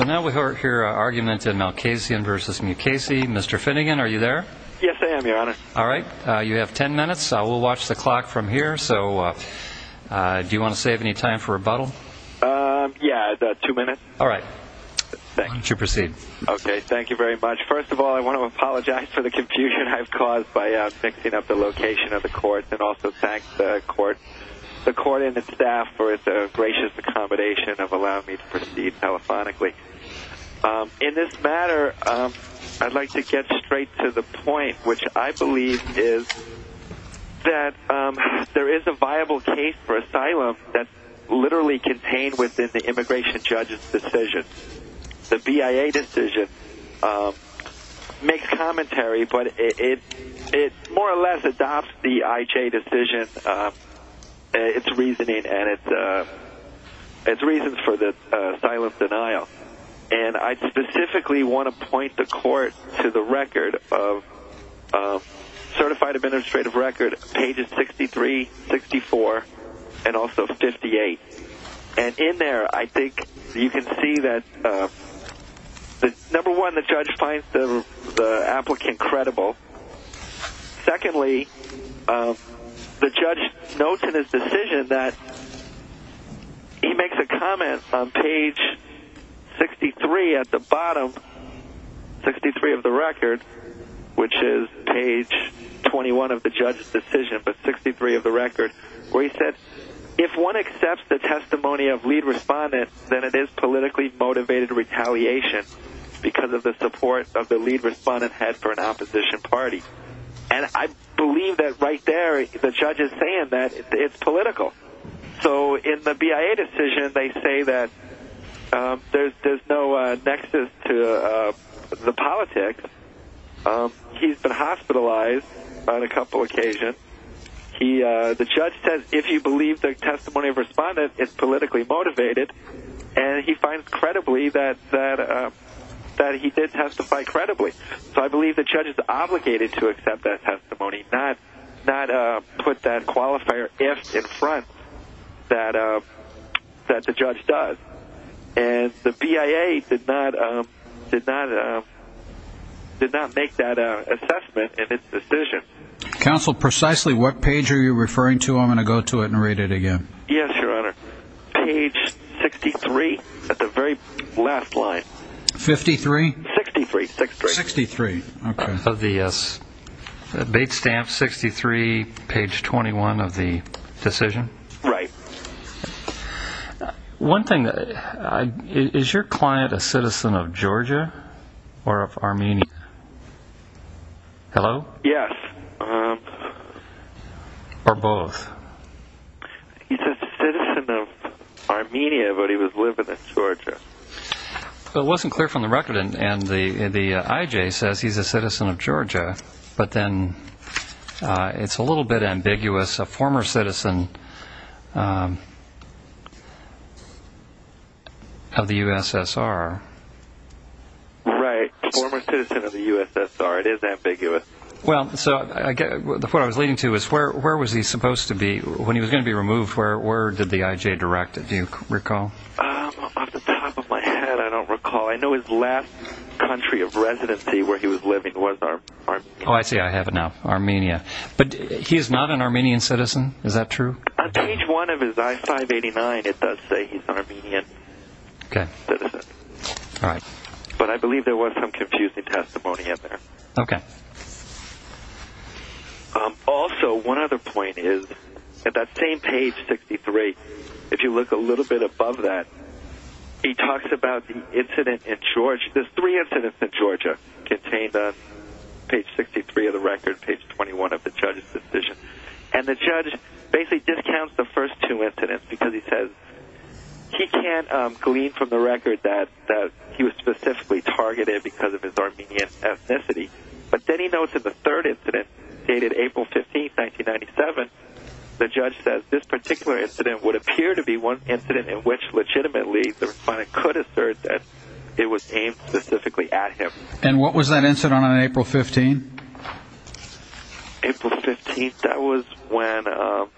Now we hear an argument in Malkhasyan v. Mukasey. Mr. Finnegan, are you there? Yes, I am, Your Honor. All right. You have ten minutes. We'll watch the clock from here. Do you want to save any time for rebuttal? Yeah, two minutes. All right. Why don't you proceed? Okay. Thank you very much. First of all, I want to apologize for the confusion I've caused by fixing up the location of the court. And also thank the court and the staff for the gracious accommodation of allowing me to proceed telephonically. In this matter, I'd like to get straight to the point, which I believe is that there is a viable case for asylum that's literally contained within the immigration judge's decision. The BIA decision makes commentary, but it more or less adopts the IJ decision, its reasoning, and its reasons for the asylum denial. And I specifically want to point the court to the record of – certified administrative record, pages 63, 64, and also 58. And in there, I think you can see that, number one, the judge finds the applicant credible. Secondly, the judge notes in his decision that he makes a comment on page 63 at the bottom, 63 of the record, which is page 21 of the judge's decision, but 63 of the record, where he said, if one accepts the testimony of lead respondents, then it is politically motivated retaliation because of the support of the lead respondent head for an opposition party. And I believe that right there, the judge is saying that it's political. So in the BIA decision, they say that there's no nexus to the politics. He's been hospitalized on a couple occasions. The judge says, if you believe the testimony of respondents, it's politically motivated. And he finds credibly that he did testify credibly. So I believe the judge is obligated to accept that testimony, not put that qualifier if in front that the judge does. And the BIA did not make that assessment in its decision. Counsel, precisely what page are you referring to? I'm going to go to it and read it again. Yes, Your Honor. Page 63 at the very last line. 53? 63. 63. Okay. Of the bait stamp, 63, page 21 of the decision? Right. One thing, is your client a citizen of Georgia or of Armenia? Hello? Yes. Or both? He's a citizen of Armenia, but he was living in Georgia. It wasn't clear from the record, and the IJ says he's a citizen of Georgia. But then it's a little bit ambiguous. A former citizen of the USSR. Right. Former citizen of the USSR. It is ambiguous. Well, so what I was leading to is where was he supposed to be when he was going to be removed? Where did the IJ direct it? Do you recall? Off the top of my head, I don't recall. I know his last country of residency where he was living was Armenia. Oh, I see. I have it now. Armenia. But he is not an Armenian citizen? Is that true? On page one of his I-589, it does say he's an Armenian citizen. Okay. All right. But I believe there was some confusing testimony in there. Okay. Also, one other point is, at that same page, 63, if you look a little bit above that, he talks about the incident in Georgia. There's three incidents in Georgia contained on page 63 of the record, page 21 of the judge's decision. And the judge basically discounts the first two incidents because he says he can't glean from the record that he was specifically targeted because of his Armenian ethnicity. But then he notes in the third incident, dated April 15, 1997, the judge says, this particular incident would appear to be one incident in which legitimately the defendant could assert that it was aimed specifically at him. And what was that incident on April 15? April 15, that was when ‑‑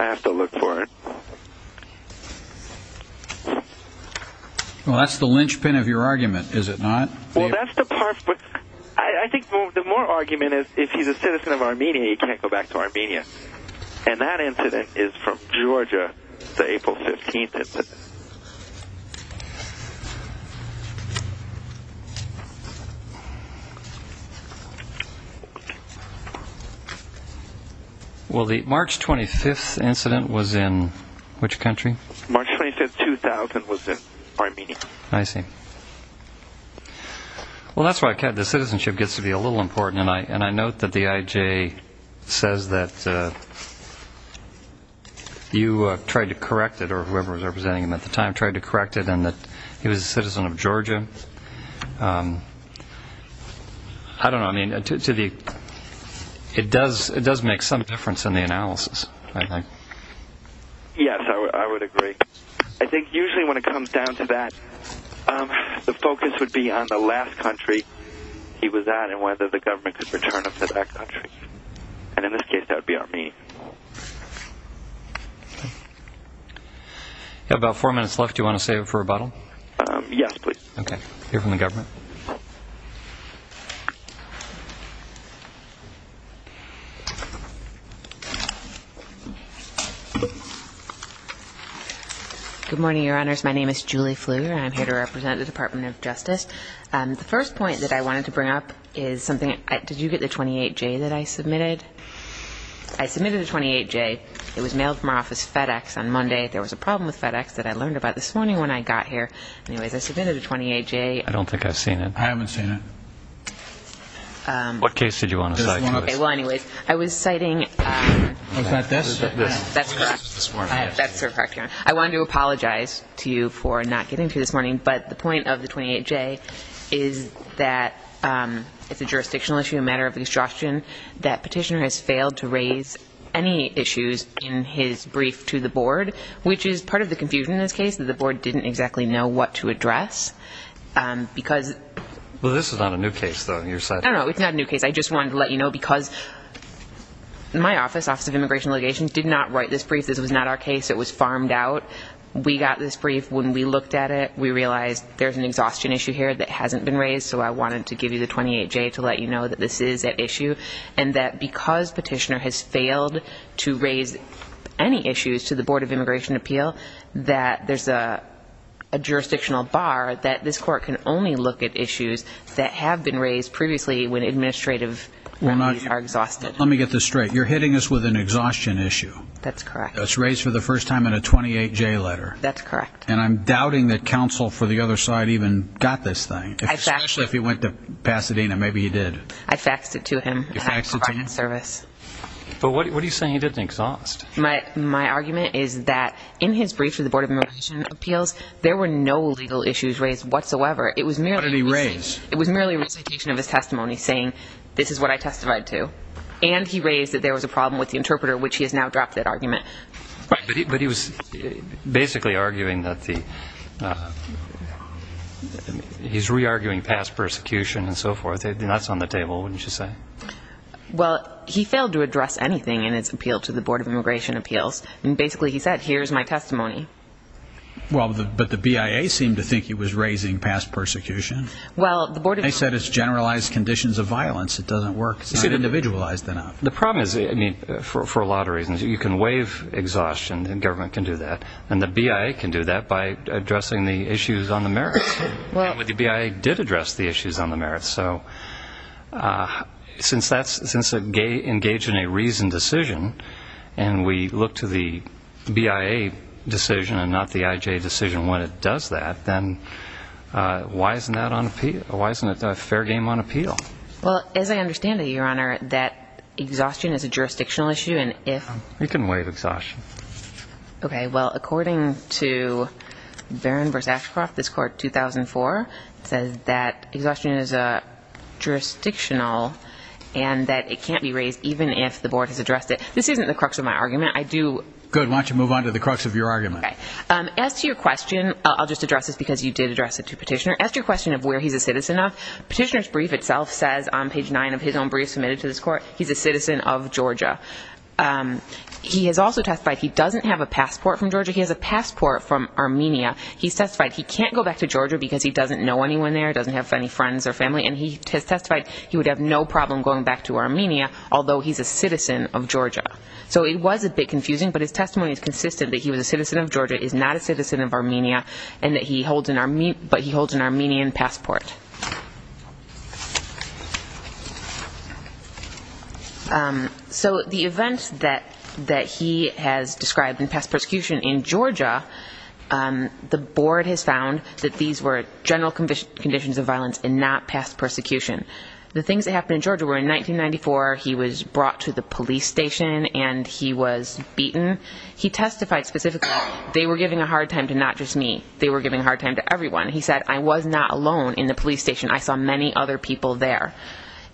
I have to look for it. Well, that's the linchpin of your argument, is it not? Well, that's the part, but I think the more argument is, if he's a citizen of Armenia, he can't go back to Armenia. And that incident is from Georgia, the April 15 incident. Well, the March 25 incident was in which country? March 25, 2000, was in Armenia. I see. Well, that's why the citizenship gets to be a little important, and I note that the IJ says that you tried to correct it, or whoever was representing him at the time tried to correct it, and that he was a citizen of Georgia. I don't know. I mean, it does make some difference in the analysis, I think. Yes, I would agree. I think usually when it comes down to that, the focus would be on the last country he was at and whether the government could return him to that country. And in this case, that would be Armenia. You have about four minutes left. Do you want to save it for rebuttal? Yes, please. Okay. We'll hear from the government. Good morning, Your Honors. My name is Julie Fleur, and I'm here to represent the Department of Justice. The first point that I wanted to bring up is something – did you get the 28J that I submitted? I submitted a 28J. It was mailed from our office FedEx on Monday. There was a problem with FedEx that I learned about this morning when I got here. Anyways, I submitted a 28J. I don't think I've seen it. I haven't seen it. What case did you want to cite? Well, anyways, I was citing – Was that this? That's correct. That's correct, Your Honor. I wanted to apologize to you for not getting to it this morning, but the point of the 28J is that it's a jurisdictional issue, a matter of obstruction, that petitioner has failed to raise any issues in his brief to the board, which is part of the confusion in this case, that the board didn't exactly know what to address because – Well, this is not a new case, though. You're citing – No, no, it's not a new case. I just wanted to let you know because my office, Office of Immigration Allegations, did not write this brief. This was not our case. It was farmed out. We got this brief. When we looked at it, we realized there's an exhaustion issue here that hasn't been raised, so I wanted to give you the 28J to let you know that this is at issue and that because petitioner has failed to raise any issues to the Board of Immigration Appeal, that there's a jurisdictional bar that this court can only look at issues that have been raised previously when administrative remedies are exhausted. Let me get this straight. You're hitting us with an exhaustion issue. That's correct. That's raised for the first time in a 28J letter. That's correct. And I'm doubting that counsel for the other side even got this thing, especially if he went to Pasadena. Maybe he did. I faxed it to him. You faxed it to him? I provided service. But what are you saying he didn't exhaust? My argument is that in his brief for the Board of Immigration Appeals, there were no legal issues raised whatsoever. What did he raise? It was merely a recitation of his testimony saying, this is what I testified to, and he raised that there was a problem with the interpreter, which he has now dropped that argument. But he was basically arguing that the he's re-arguing past persecution and so forth, and that's on the table, wouldn't you say? Well, he failed to address anything in his appeal to the Board of Immigration Appeals, and basically he said, here's my testimony. But the BIA seemed to think he was raising past persecution. They said it's generalized conditions of violence. It doesn't work. It's not individualized enough. The problem is, for a lot of reasons, you can waive exhaustion, and the government can do that, and the BIA can do that by addressing the issues on the merits. But the BIA did address the issues on the merits. So since that's engaged in a reasoned decision, and we look to the BIA decision and not the IJ decision when it does that, then why isn't that a fair game on appeal? Well, as I understand it, Your Honor, that exhaustion is a jurisdictional issue, and if... You can waive exhaustion. Okay. Well, according to Barron v. Ashcroft, this Court, 2004, says that exhaustion is jurisdictional and that it can't be raised even if the Board has addressed it. This isn't the crux of my argument. I do... Good. Why don't you move on to the crux of your argument. Okay. As to your question, I'll just address this because you did address it to Petitioner. As to your question of where he's a citizen of, Petitioner's brief itself says on page 9 of his own brief submitted to this Court, he's a citizen of Georgia. He has also testified he doesn't have a passport from Georgia. He has a passport from Armenia. He's testified he can't go back to Georgia because he doesn't know anyone there, doesn't have any friends or family, and he has testified he would have no problem going back to Armenia, although he's a citizen of Georgia. So it was a bit confusing, but his testimony is consistent that he was a citizen of Georgia, is not a citizen of Armenia, and that he holds an Armenian passport. So the events that he has described in past persecution in Georgia, the Board has found that these were general conditions of violence and not past persecution. The things that happened in Georgia were, in 1994, he was brought to the police station and he was beaten. He testified specifically they were giving a hard time to not just me, they were giving a hard time to everyone. He said, I was not alone in the persecution. I saw many other people there.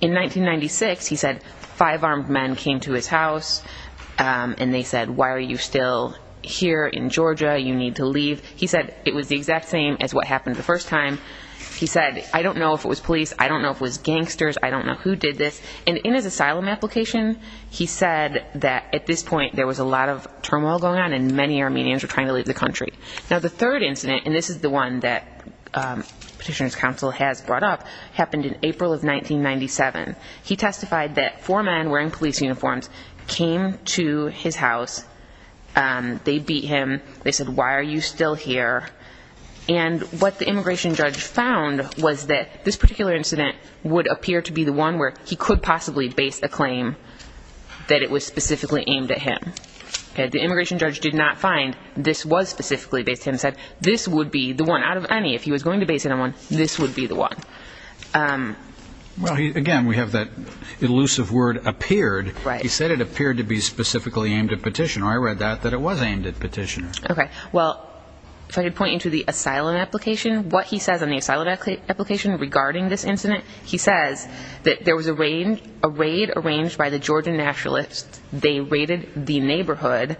In 1996, he said five armed men came to his house and they said, why are you still here in Georgia? You need to leave. He said it was the exact same as what happened the first time. He said, I don't know if it was police. I don't know if it was gangsters. I don't know who did this. And in his asylum application, he said that at this point there was a lot of turmoil going on and many Armenians were trying to leave the country. Now, the third incident, and this is the one that Petitioner's Counsel has brought up, happened in April of 1997. He testified that four men wearing police uniforms came to his house. They beat him. They said, why are you still here? And what the immigration judge found was that this particular incident would appear to be the one where he could possibly base a claim that it was specifically aimed at him. The immigration judge did not find this was specifically based on him. He said this would be the one out of any, if he was going to base it on one, this would be the one. Again, we have that elusive word, appeared. He said it appeared to be specifically aimed at Petitioner. I read that, that it was aimed at Petitioner. Well, if I could point you to the asylum application, what he says on the asylum application regarding this incident, he says that there was a raid arranged by the Georgian nationalists. They raided the neighborhood,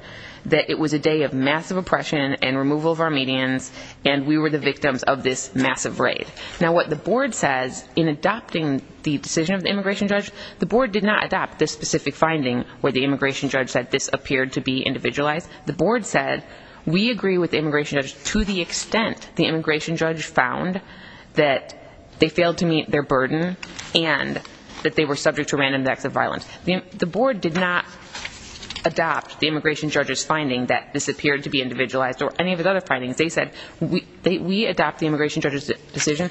that it was a day of massive oppression and removal of our medians, and we were the victims of this massive raid. Now, what the board says in adopting the decision of the immigration judge, the board did not adopt this specific finding where the immigration judge said this appeared to be individualized. The board said, we agree with the immigration judge to the extent the immigration judge found that they failed to meet their burden and that they were subject to random acts of violence. The board did not adopt the immigration judge's finding that this appeared to be individualized or any of his other findings. They said, we adopt the immigration judge's decision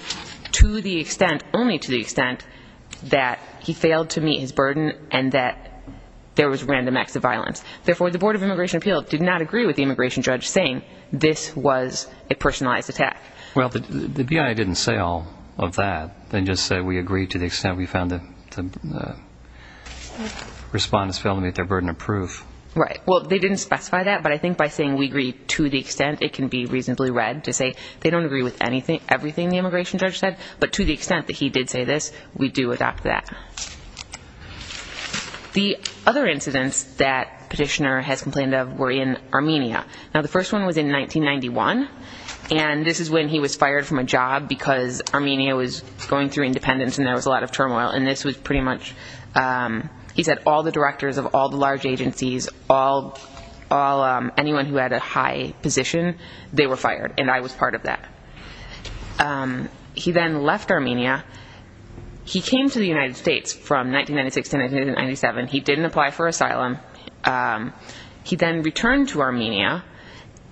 to the extent, only to the extent that he failed to meet his burden and that there was random acts of violence. Therefore, the Board of Immigration Appeals did not agree with the immigration judge saying this was a personalized attack. Well, the BIA didn't say all of that. They just said, we agree to the extent we found that the respondents failed to meet their burden of proof. Right. Well, they didn't specify that, but I think by saying we agree to the extent, it can be reasonably read to say they don't agree with everything the immigration judge said, but to the extent that he did say this, we do adopt that. The other incidents that Petitioner has complained of were in Armenia. Now, the first one was in 1991, and this is when he was fired from a job because Armenia was going through independence and there was a lot of turmoil, and this was pretty much, he said, all the directors of all the large agencies, anyone who had a high position, they were fired, and I was part of that. He then left Armenia. He came to the United States from 1996 to 1997. He didn't apply for asylum. He then returned to Armenia,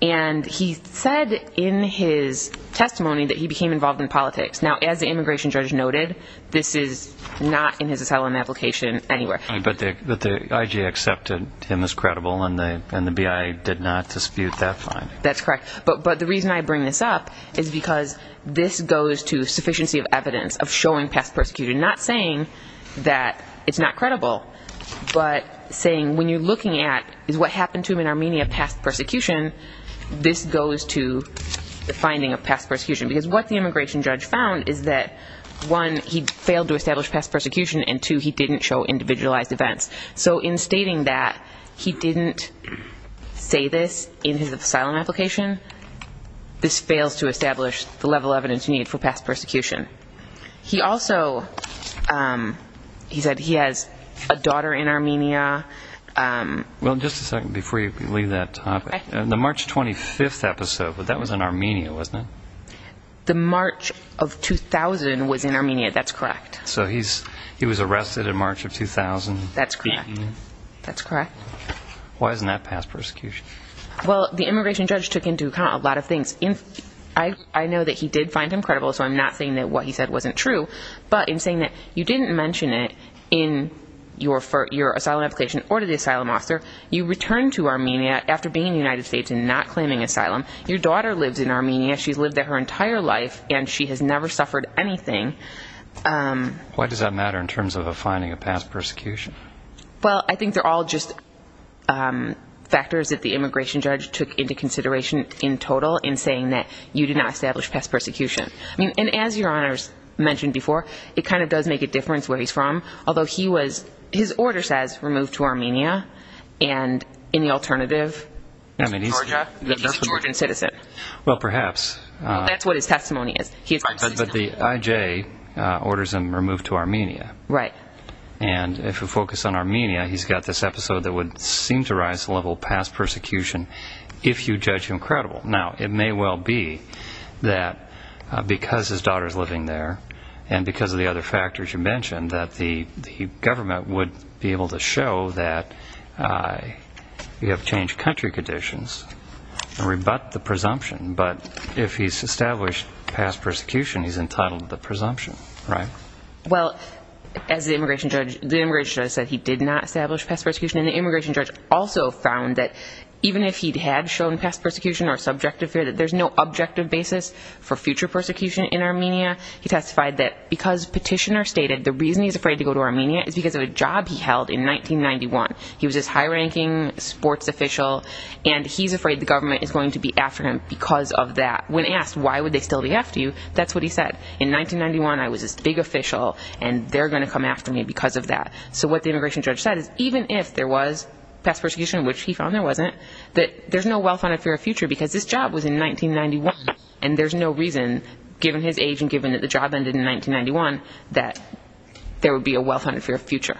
and he said in his testimony that he became involved in politics. Now, as the immigration judge noted, this is not in his asylum application anywhere. But the IG accepted him as credible, and the BIA did not dispute that finding. That's correct, but the reason I bring this up is because this goes to sufficiency of evidence, of showing past persecution, not saying that it's not credible, but saying when you're looking at what happened to him in Armenia, past persecution, this goes to the finding of past persecution. Because what the immigration judge found is that, one, he failed to establish past persecution, and two, he didn't show individualized events. So in stating that he didn't say this in his asylum application, this fails to establish the level of evidence needed for past persecution. He also said he has a daughter in Armenia. Well, just a second before you leave that topic. The March 25th episode, that was in Armenia, wasn't it? The March of 2000 was in Armenia, that's correct. So he was arrested in March of 2000. That's correct. Why isn't that past persecution? Well, the immigration judge took into account a lot of things. I know that he did find him credible, so I'm not saying that what he said wasn't true. But in saying that you didn't mention it in your asylum application or to the asylum officer, you returned to Armenia after being in the United States and not claiming asylum, your daughter lives in Armenia, she's lived there her entire life, and she has never suffered anything. Why does that matter in terms of a finding of past persecution? Well, I think they're all just factors that the immigration judge took into consideration in total in saying that you did not establish past persecution. And as Your Honors mentioned before, it kind of does make a difference where he's from, although his order says removed to Armenia, and any alternative? Georgia? That he's a Georgian citizen. Well, perhaps. That's what his testimony is. But the IJ orders him removed to Armenia. Right. And if we focus on Armenia, he's got this episode that would seem to rise to the level of past persecution if you judge him credible. Now, it may well be that because his daughter is living there and because of the other factors you mentioned that the government would be able to show that you have changed country conditions and rebut the presumption. But if he's established past persecution, he's entitled to the presumption, right? Well, as the immigration judge said, he did not establish past persecution. And the immigration judge also found that even if he had shown past persecution or subjective fear, that there's no objective basis for future persecution in Armenia. He testified that because Petitioner stated the reason he's afraid to go to Armenia is because of a job he held in 1991. He was this high-ranking sports official, and he's afraid the government is going to be after him because of that. When asked why would they still be after you, that's what he said. In 1991, I was this big official, and they're going to come after me because of that. So what the immigration judge said is even if there was past persecution, which he found there wasn't, that there's no well-founded fear of future because this job was in 1991. And there's no reason, given his age and given that the job ended in 1991, that there would be a well-founded fear of future.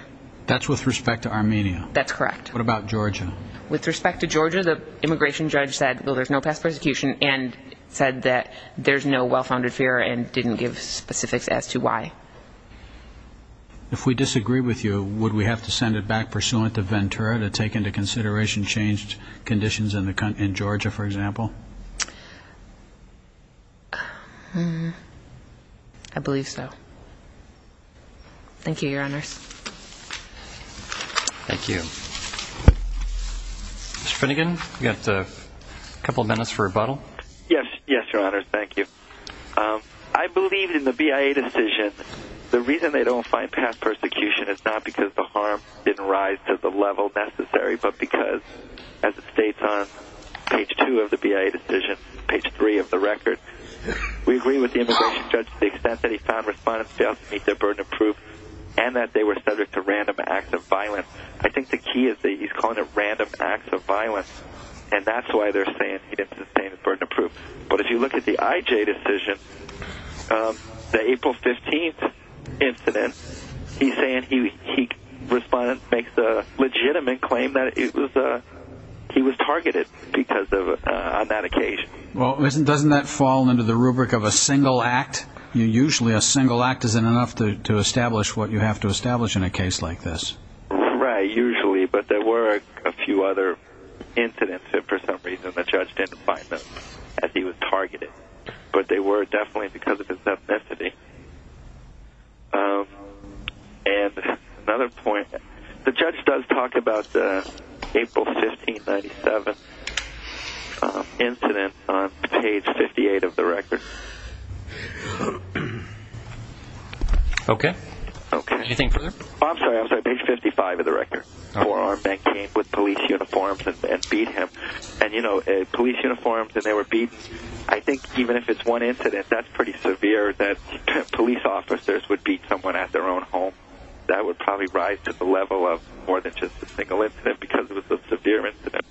That's with respect to Armenia. That's correct. What about Georgia? With respect to Georgia, the immigration judge said, well, there's no past persecution and said that there's no well-founded fear and didn't give specifics as to why. If we disagree with you, would we have to send it back pursuant to Ventura to take into consideration changed conditions in Georgia, for example? I believe so. Thank you, Your Honors. Thank you. Mr. Finnegan, we've got a couple of minutes for rebuttal. Yes, Your Honors, thank you. I believe in the BIA decision. The reason they don't find past persecution is not because the harm didn't rise to the level necessary, but because, as it states on page 2 of the BIA decision, page 3 of the record, we agree with the immigration judge to the extent that he found respondents failed to meet their burden of proof and that they were subject to random acts of violence. I think the key is that he's calling it random acts of violence, and that's why they're saying he didn't sustain the burden of proof. But if you look at the IJ decision, the April 15th incident, he's saying he makes a legitimate claim that he was targeted on that occasion. Well, doesn't that fall under the rubric of a single act? Usually a single act isn't enough to establish what you have to establish in a case like this. Right, usually, but there were a few other incidents that, for some reason, the judge didn't find them as he was targeted, but they were definitely because of his ethnicity. And another point, the judge does talk about the April 15, 1997 incident on page 58 of the record. Okay. I'm sorry, I'm sorry, page 55 of the record. A four-armed man came with police uniforms and beat him. And, you know, police uniforms and they were beaten. I think even if it's one incident, that's pretty severe that police officers would beat someone at their own home. That would probably rise to the level of more than just a single incident because it was a severe incident.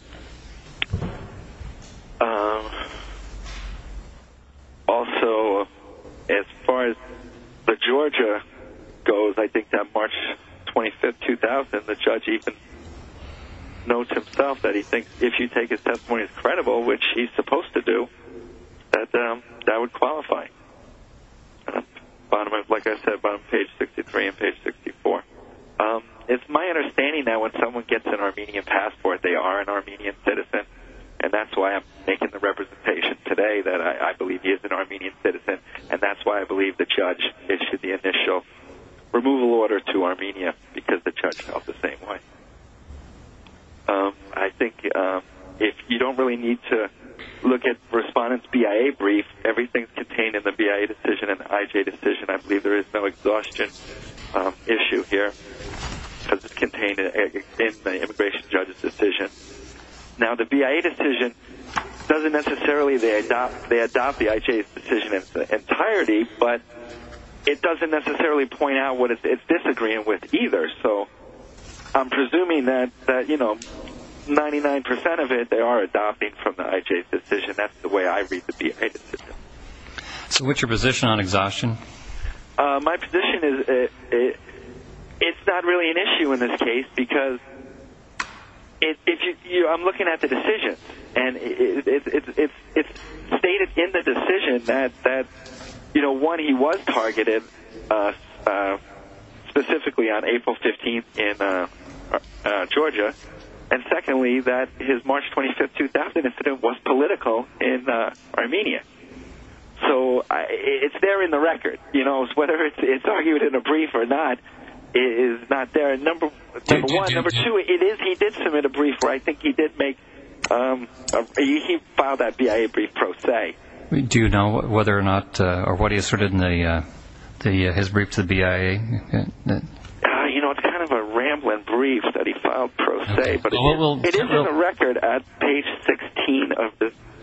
Also, as far as the Georgia goes, I think that March 25, 2000, the judge even notes himself that he thinks if you take his testimony as credible, which he's supposed to do, that that would qualify. Like I said, bottom of page 63 and page 64. It's my understanding that when someone gets an Armenian passport, they are an Armenian citizen, and that's why I'm making the representation today that I believe he is an Armenian citizen, and that's why I believe the judge issued the initial removal order to Armenia because the judge felt the same way. I think if you don't really need to look at Respondent's BIA brief, everything's contained in the BIA decision and the IJ decision, I believe there is no exhaustion issue here because it's contained in the immigration judge's decision. Now, the BIA decision doesn't necessarily, they adopt the IJ's decision in its entirety, but it doesn't necessarily point out what it's disagreeing with either. So I'm presuming that, you know, 99% of it they are adopting from the IJ's decision. That's the way I read the BIA decision. So what's your position on exhaustion? My position is it's not really an issue in this case because I'm looking at the decision, and it's stated in the decision that, you know, one, he was targeted specifically on April 15th in Georgia, and secondly, that his March 25th, 2000 incident was political in Armenia. So it's there in the record, you know, whether it's argued in a brief or not, it is not there. Number one, number two, it is, he did submit a brief where I think he did make, he filed that BIA brief pro se. Do you know whether or not, or what he asserted in his brief to the BIA? You know, it's kind of a rambling brief that he filed pro se, but it is in the record at page 16.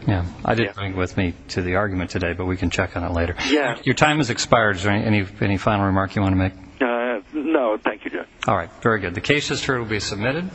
Yeah, I didn't bring it with me to the argument today, but we can check on it later. Your time has expired. Is there any final remark you want to make? No, thank you, Judge. All right, very good. The case is to be submitted.